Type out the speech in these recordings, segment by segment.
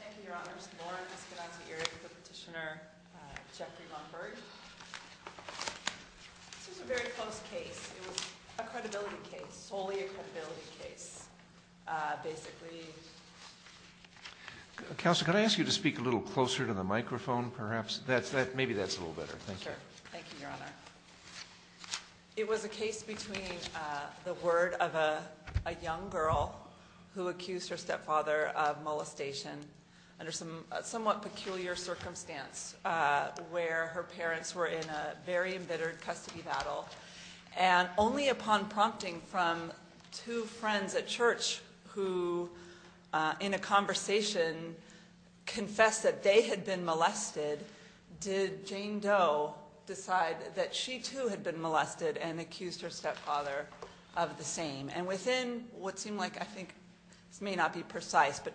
Thank you, Your Honor. Lauren Eskenazi-Erik with Petitioner Jeffrey Lungberg. This was a very close case. It was a credibility case, solely a credibility case. Basically... Counsel, can I ask you to speak a little closer to the microphone, perhaps? Maybe that's a little better. Thank you. Sure. Thank you, Your Honor. It was a case between the word of a young girl who accused her stepfather of molestation under a somewhat peculiar circumstance where her parents were in a very embittered custody battle. And only upon prompting from two friends at church who, in a conversation, confessed that they had been molested, did Jane Doe decide that she, too, had been molested and accused her stepfather of the same. And within what seemed like, I think, this may not be precise, but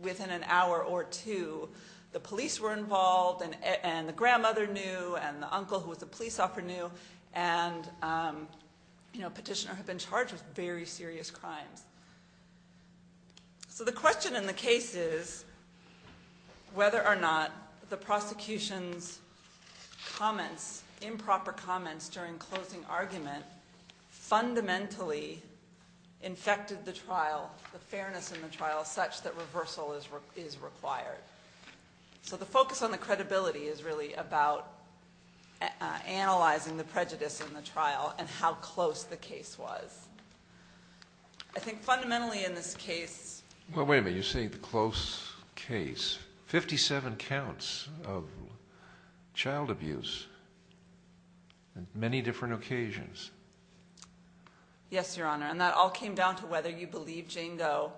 within an hour or two, the police were involved and the grandmother knew and the uncle who was the police officer knew and Petitioner had been charged with very serious crimes. So the question in the case is whether or not the prosecution's comments, improper comments during closing argument, fundamentally infected the trial, the fairness in the trial, such that reversal is required. So the focus on the credibility is really about analysing the prejudice in the trial and how close the case was. I think fundamentally in this case... Well, wait a minute, you say the close case. Fifty-seven counts of child abuse on many different occasions. Yes, Your Honor, and that all came down to whether you believe Jane Doe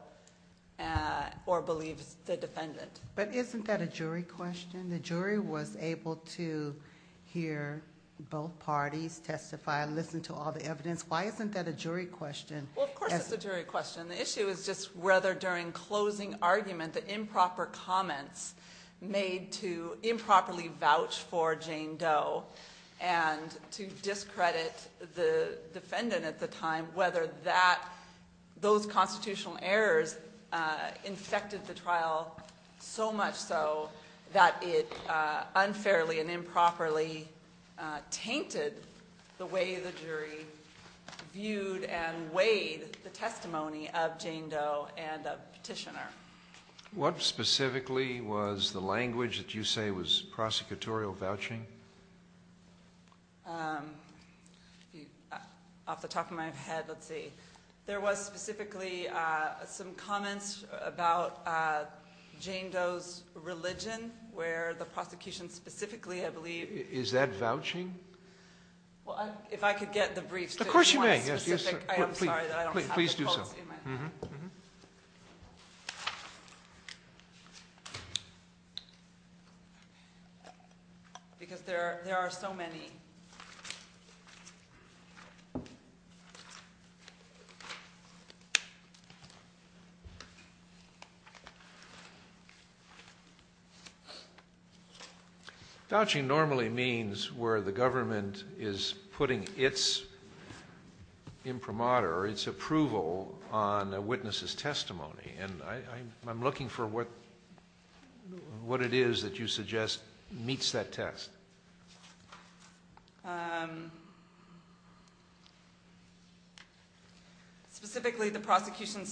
or believe the defendant. But isn't that a jury question? The jury was able to hear both parties testify, listen to all the evidence. Why isn't that a jury question? Well, of course it's a jury question. The issue is just whether during closing argument the improper comments made to improperly vouch for Jane Doe and to discredit the defendant at the time, whether those constitutional errors infected the trial so much so that it unfairly and improperly tainted the way the jury viewed and weighed the testimony of Jane Doe and the petitioner. What specifically was the language that you say was prosecutorial vouching? Off the top of my head, let's see. There was specifically some comments about Jane Doe's religion, where the prosecution specifically, I believe... Is that vouching? If I could get the briefs to one specific. Of course you may. I'm sorry that I don't have the quotes in my hand. Please do so. Because there are so many. Vouching normally means where the government is putting its imprimatur, its approval on a witness's testimony. And I'm looking for what it is that you suggest meets that test. Specifically, the prosecution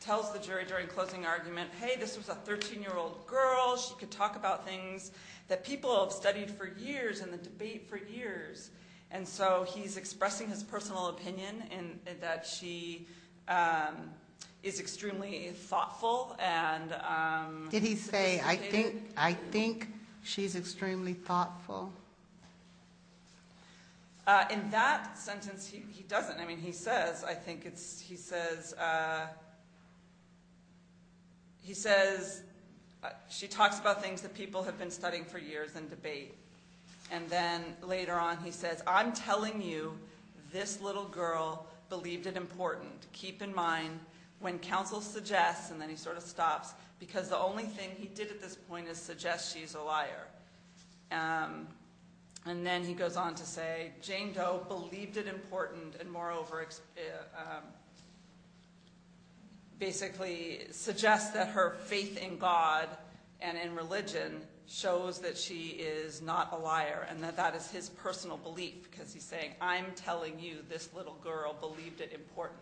tells the jury during closing argument, hey, this was a 13-year-old girl. She could talk about things that people have studied for years in the debate for years. And so he's expressing his personal opinion that she is extremely thoughtful. Did he say, I think she's extremely thoughtful? In that sentence, he doesn't. I mean, he says, I think it's... He says she talks about things that people have been studying for years in debate. And then later on he says, I'm telling you this little girl believed it important. Keep in mind when counsel suggests, and then he sort of stops, because the only thing he did at this point is suggest she's a liar. And then he goes on to say, Jane Doe believed it important, and moreover basically suggests that her faith in God and in religion shows that she is not a liar and that that is his personal belief. Because he's saying, I'm telling you this little girl believed it important.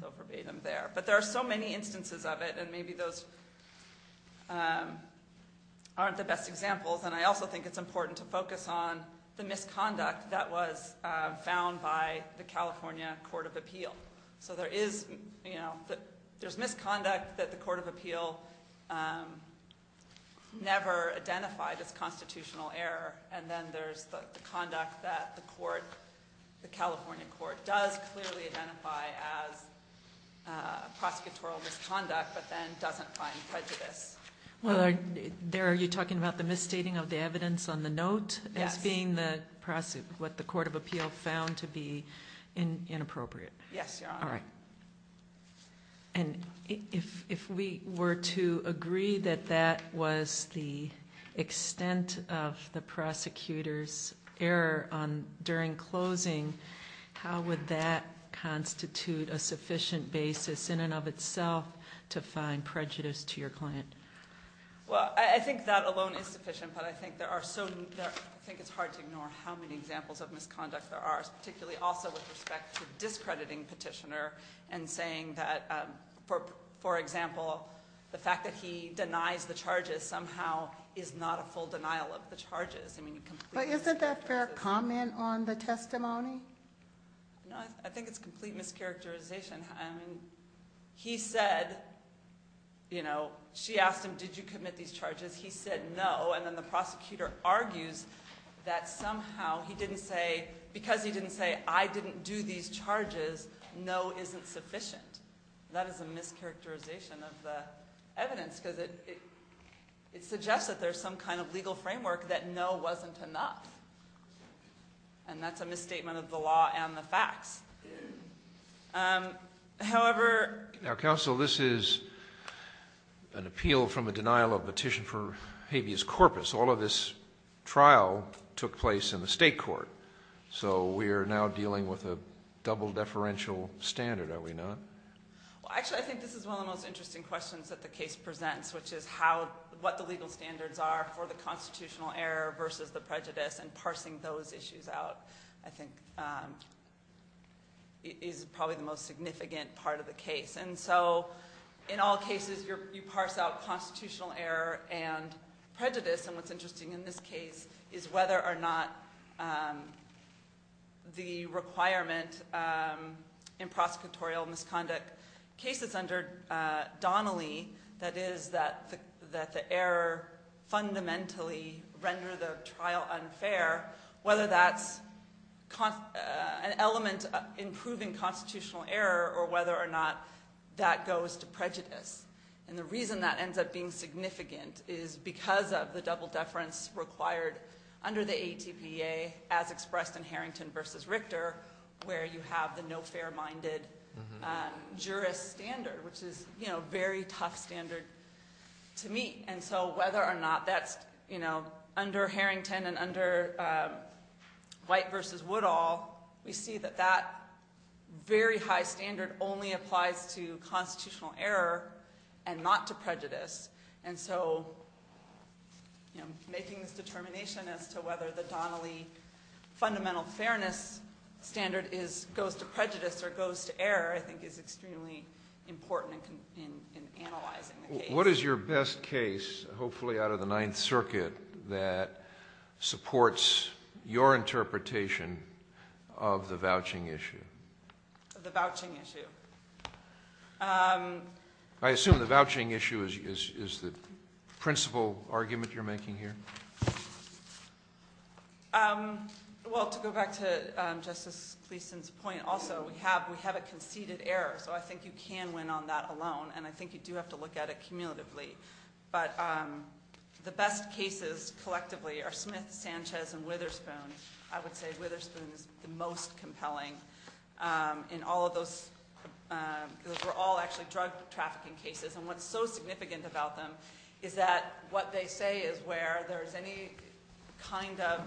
So verbatim there. But there are so many instances of it, and maybe those aren't the best examples. And I also think it's important to focus on the misconduct that was found by the California Court of Appeal. So there is misconduct that the Court of Appeal never identified as constitutional error. And then there's the conduct that the California Court does clearly identify as prosecutorial misconduct, but then doesn't find prejudice. Well, there you're talking about the misstating of the evidence on the note as being what the Court of Appeal found to be inappropriate. Yes, Your Honor. All right. And if we were to agree that that was the extent of the prosecutor's error during closing, how would that constitute a sufficient basis in and of itself to find prejudice to your client? Well, I think that alone is sufficient, but I think it's hard to ignore how many examples of misconduct there are, particularly also with respect to discrediting Petitioner and saying that, for example, the fact that he denies the charges somehow is not a full denial of the charges. But isn't that fair comment on the testimony? No, I think it's complete mischaracterization. I mean, he said, you know, she asked him, did you commit these charges? He said no, and then the prosecutor argues that somehow he didn't say because he didn't say I didn't do these charges, no isn't sufficient. That is a mischaracterization of the evidence because it suggests that there's some kind of legal framework that no wasn't enough, and that's a misstatement of the law and the facts. However... Now, counsel, this is an appeal from a denial of petition for habeas corpus. All of this trial took place in the state court, so we are now dealing with a double deferential standard, are we not? Well, actually, I think this is one of the most interesting questions that the case presents, which is what the legal standards are for the constitutional error versus the prejudice, and parsing those issues out, I think, is probably the most significant part of the case. And so, in all cases, you parse out constitutional error and prejudice, and what's interesting in this case is whether or not the requirement in prosecutorial misconduct cases under Donnelly, that is that the error fundamentally rendered the trial unfair, whether that's an element of improving constitutional error or whether or not that goes to prejudice. And the reason that ends up being significant is because of the double deference required under the ATPA as expressed in Harrington v. Richter, where you have the no fair-minded jurist standard, which is a very tough standard to meet. And so, whether or not that's under Harrington and under White v. Woodall, we see that that very high standard only applies to constitutional error and not to prejudice. And so, making this determination as to whether the Donnelly fundamental fairness standard goes to prejudice or goes to error, I think, is extremely important in analyzing the case. What is your best case, hopefully out of the Ninth Circuit, that supports your interpretation of the vouching issue? The vouching issue. I assume the vouching issue is the principal argument you're making here? Well, to go back to Justice Gleeson's point, also, we have a conceded error, so I think you can win on that alone, and I think you do have to look at it cumulatively. But the best cases, collectively, are Smith, Sanchez, and Witherspoon. I would say Witherspoon is the most compelling. In all of those, those were all actually drug trafficking cases, and what's so significant about them is that what they say is where there's any kind of,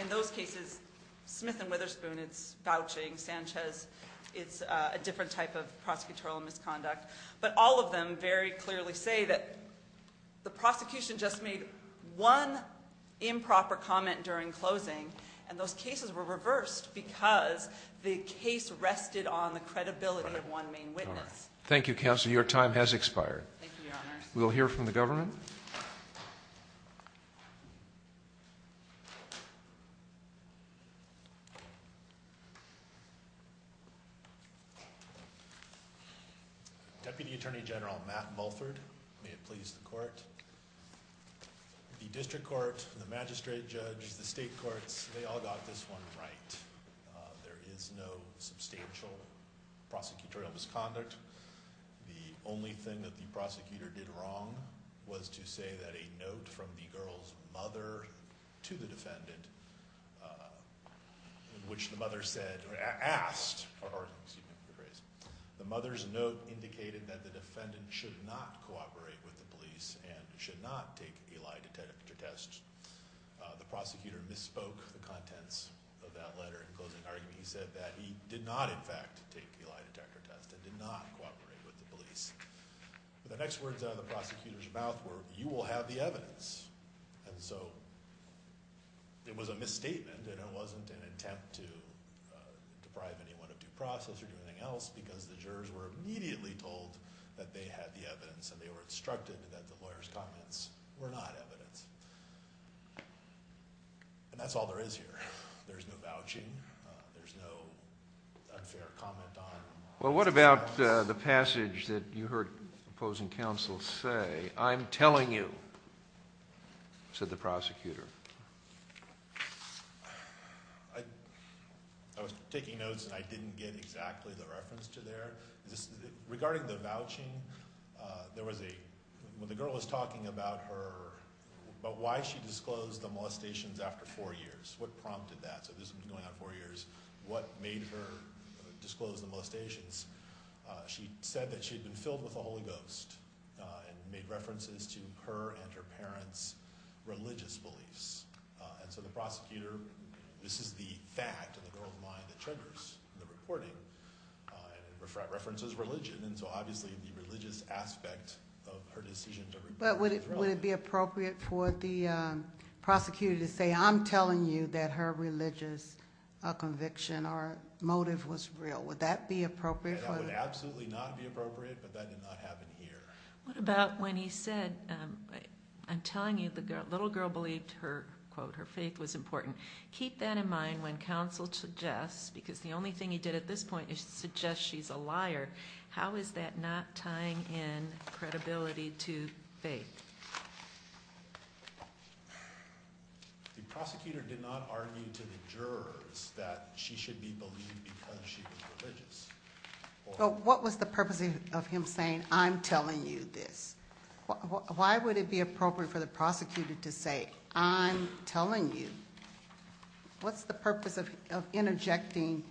in those cases, Smith and Witherspoon, it's vouching. Sanchez, it's a different type of prosecutorial misconduct. But all of them very clearly say that the prosecution just made one improper comment during closing, and those cases were reversed because the case rested on the credibility of one main witness. Thank you, Counselor. Your time has expired. Thank you, Your Honors. We'll hear from the government. Thank you. Deputy Attorney General Matt Mulford, may it please the court. The district court, the magistrate judge, the state courts, they all got this one right. There is no substantial prosecutorial misconduct. The only thing that the prosecutor did wrong was to say that a note from the girl's mother to the defendant, which the mother said or asked, or excuse me for the phrase, the mother's note indicated that the defendant should not cooperate with the police and should not take a lie detector test. The prosecutor misspoke the contents of that letter in closing argument. He said that he did not, in fact, take a lie detector test and did not cooperate with the police. The next words out of the prosecutor's mouth were, you will have the evidence. And so it was a misstatement and it wasn't an attempt to deprive anyone of due process or anything else because the jurors were immediately told that they had the evidence and they were instructed that the lawyer's comments were not evidence. And that's all there is here. There's no vouching. There's no unfair comment on. Well, what about the passage that you heard opposing counsel say? I'm telling you, said the prosecutor. I was taking notes and I didn't get exactly the reference to there. Regarding the vouching, there was a, when the girl was talking about her, about why she disclosed the molestations after four years. What prompted that? So this has been going on four years. What made her disclose the molestations? She said that she had been filled with the Holy Ghost and made references to her and her parents' religious beliefs. And so the prosecutor, this is the fact of the girl's mind that triggers the reporting, and it references religion. And so obviously the religious aspect of her decision to- But would it be appropriate for the prosecutor to say, I'm telling you that her religious conviction or motive was real. Would that be appropriate for- That would absolutely not be appropriate, but that did not happen here. What about when he said, I'm telling you, the little girl believed her, quote, her faith was important. Keep that in mind when counsel suggests, how is that not tying in credibility to faith? The prosecutor did not argue to the jurors that she should be believed because she was religious. What was the purpose of him saying, I'm telling you this? Why would it be appropriate for the prosecutor to say, I'm telling you? What's the purpose of interjecting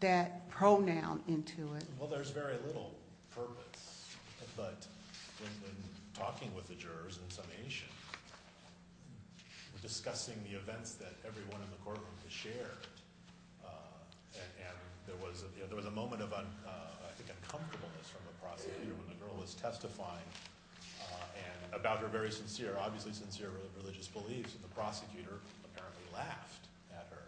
that pronoun into it? Well, there's very little purpose, but in talking with the jurors in summation, discussing the events that everyone in the courtroom has shared, and there was a moment of, I think, uncomfortableness from the prosecutor when the girl was testifying about her very sincere, obviously sincere religious beliefs, and the prosecutor apparently laughed at her.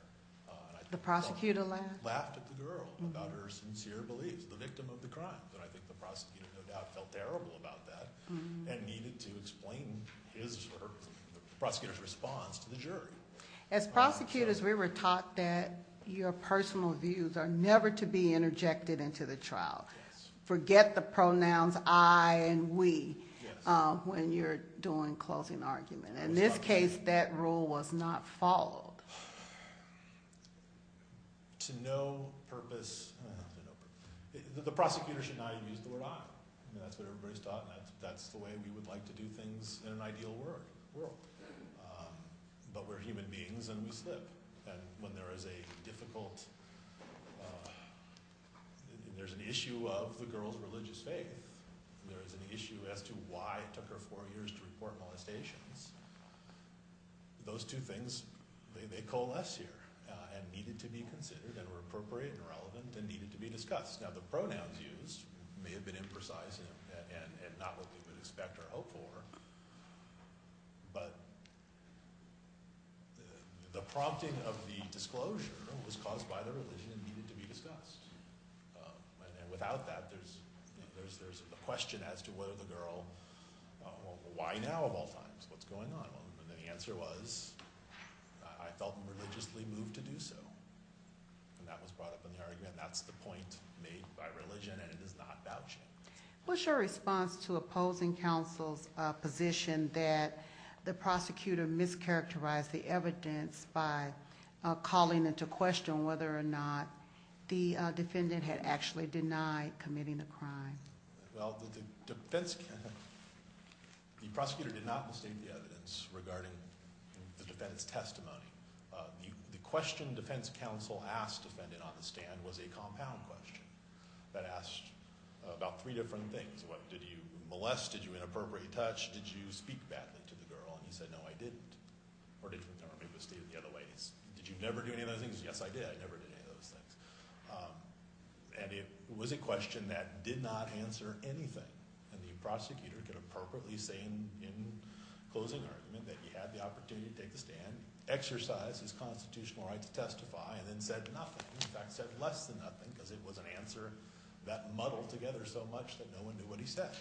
The prosecutor laughed? Laughed at the girl about her sincere beliefs, the victim of the crimes, and I think the prosecutor no doubt felt terrible about that and needed to explain the prosecutor's response to the jury. As prosecutors, we were taught that your personal views are never to be interjected into the trial. Forget the pronouns I and we when you're doing closing argument. In this case, that rule was not followed. To no purpose, the prosecutor should not have used the word I. That's what everybody's taught and that's the way we would like to do things in an ideal world. But we're human beings and we slip. And when there is a difficult, there's an issue of the girl's religious faith. There is an issue as to why it took her four years to report molestations. Those two things, they coalesce here and needed to be considered and were appropriate and relevant and needed to be discussed. Now the pronouns used may have been imprecise and not what we would expect or hope for, but the prompting of the disclosure was caused by the religion and needed to be discussed. And without that, there's a question as to whether the girl, why now of all times? What's going on? And the answer was, I felt religiously moved to do so. And that was brought up in the argument. That's the point made by religion and it is not vouching. What's your response to opposing counsel's position that the prosecutor mischaracterized the evidence by calling into question whether or not the defendant had actually denied committing the crime? Well, the defense counsel, the prosecutor did not mistake the evidence regarding the defendant's testimony. The question defense counsel asked the defendant on the stand was a compound question that asked about three different things. Did you molest? Did you inappropriate touch? Did you speak badly to the girl? And he said, no, I didn't. Or did you make a mistake in the other way? Did you never do any of those things? Yes, I did. I never did any of those things. And it was a question that did not answer anything. And the prosecutor could appropriately say in closing argument that he had the opportunity to take the stand, exercise his constitutional right to testify, and then said nothing. In fact, said less than nothing because it was an answer that muddled together so much that no one knew what he said.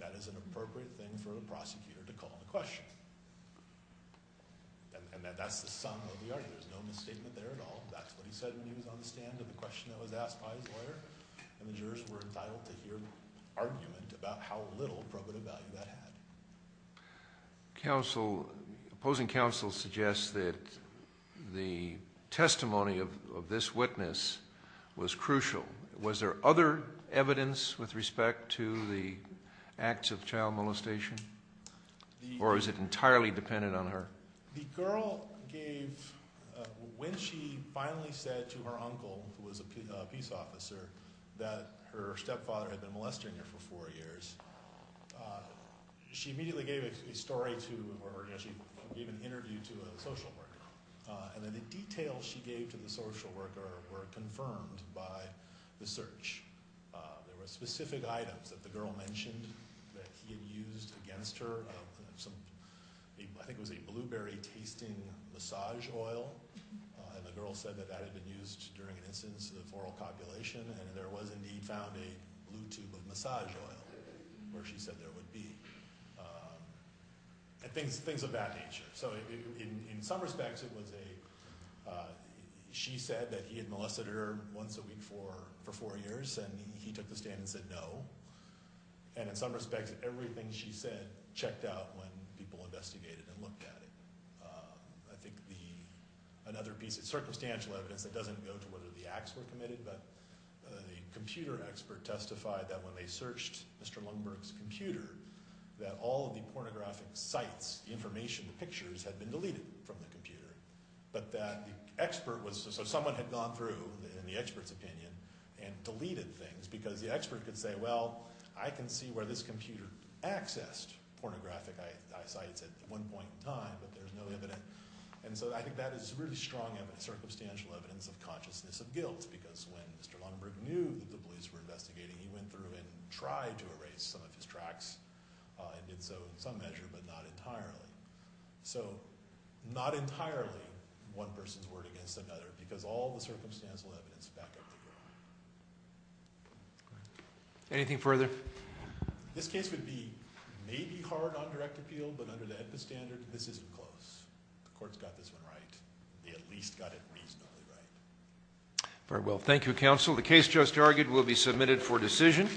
That is an appropriate thing for a prosecutor to call into question. And that's the sum of the argument. There's no misstatement there at all. That's what he said when he was on the stand and the question that was asked by his lawyer. And the jurors were entitled to hear argument about how little probative value that had. Counsel, opposing counsel suggests that the testimony of this witness was crucial. Was there other evidence with respect to the acts of child molestation? Or is it entirely dependent on her? The girl gave – when she finally said to her uncle, who was a peace officer, that her stepfather had been molesting her for four years, she immediately gave a story to – or she gave an interview to a social worker. And then the details she gave to the social worker were confirmed by the search. There were specific items that the girl mentioned that he had used against her. I think it was a blueberry-tasting massage oil. And the girl said that that had been used during an instance of oral copulation, and there was indeed found a blue tube of massage oil where she said there would be. And things of that nature. So in some respects, it was a – she said that he had molested her once a week for four years, and he took the stand and said no. And in some respects, everything she said checked out when people investigated and looked at it. I think the – another piece of circumstantial evidence that doesn't go to whether the acts were committed, but the computer expert testified that when they searched Mr. Lundberg's computer, that all of the pornographic sites, the information, the pictures, had been deleted from the computer. But that the expert was – so someone had gone through, in the expert's opinion, and deleted things, because the expert could say, well, I can see where this computer accessed pornographic sites at one point in time, but there's no evidence. And so I think that is really strong circumstantial evidence of consciousness of guilt, because when Mr. Lundberg knew that the police were investigating, he went through and tried to erase some of his tracks and did so in some measure, but not entirely. So not entirely one person's word against another, because all the circumstantial evidence back up the group. Anything further? This case would be maybe hard on direct appeal, but under the EDPA standard, this isn't close. The court's got this one right. They at least got it reasonably right. Very well. Thank you, counsel. The case just argued will be submitted for decision.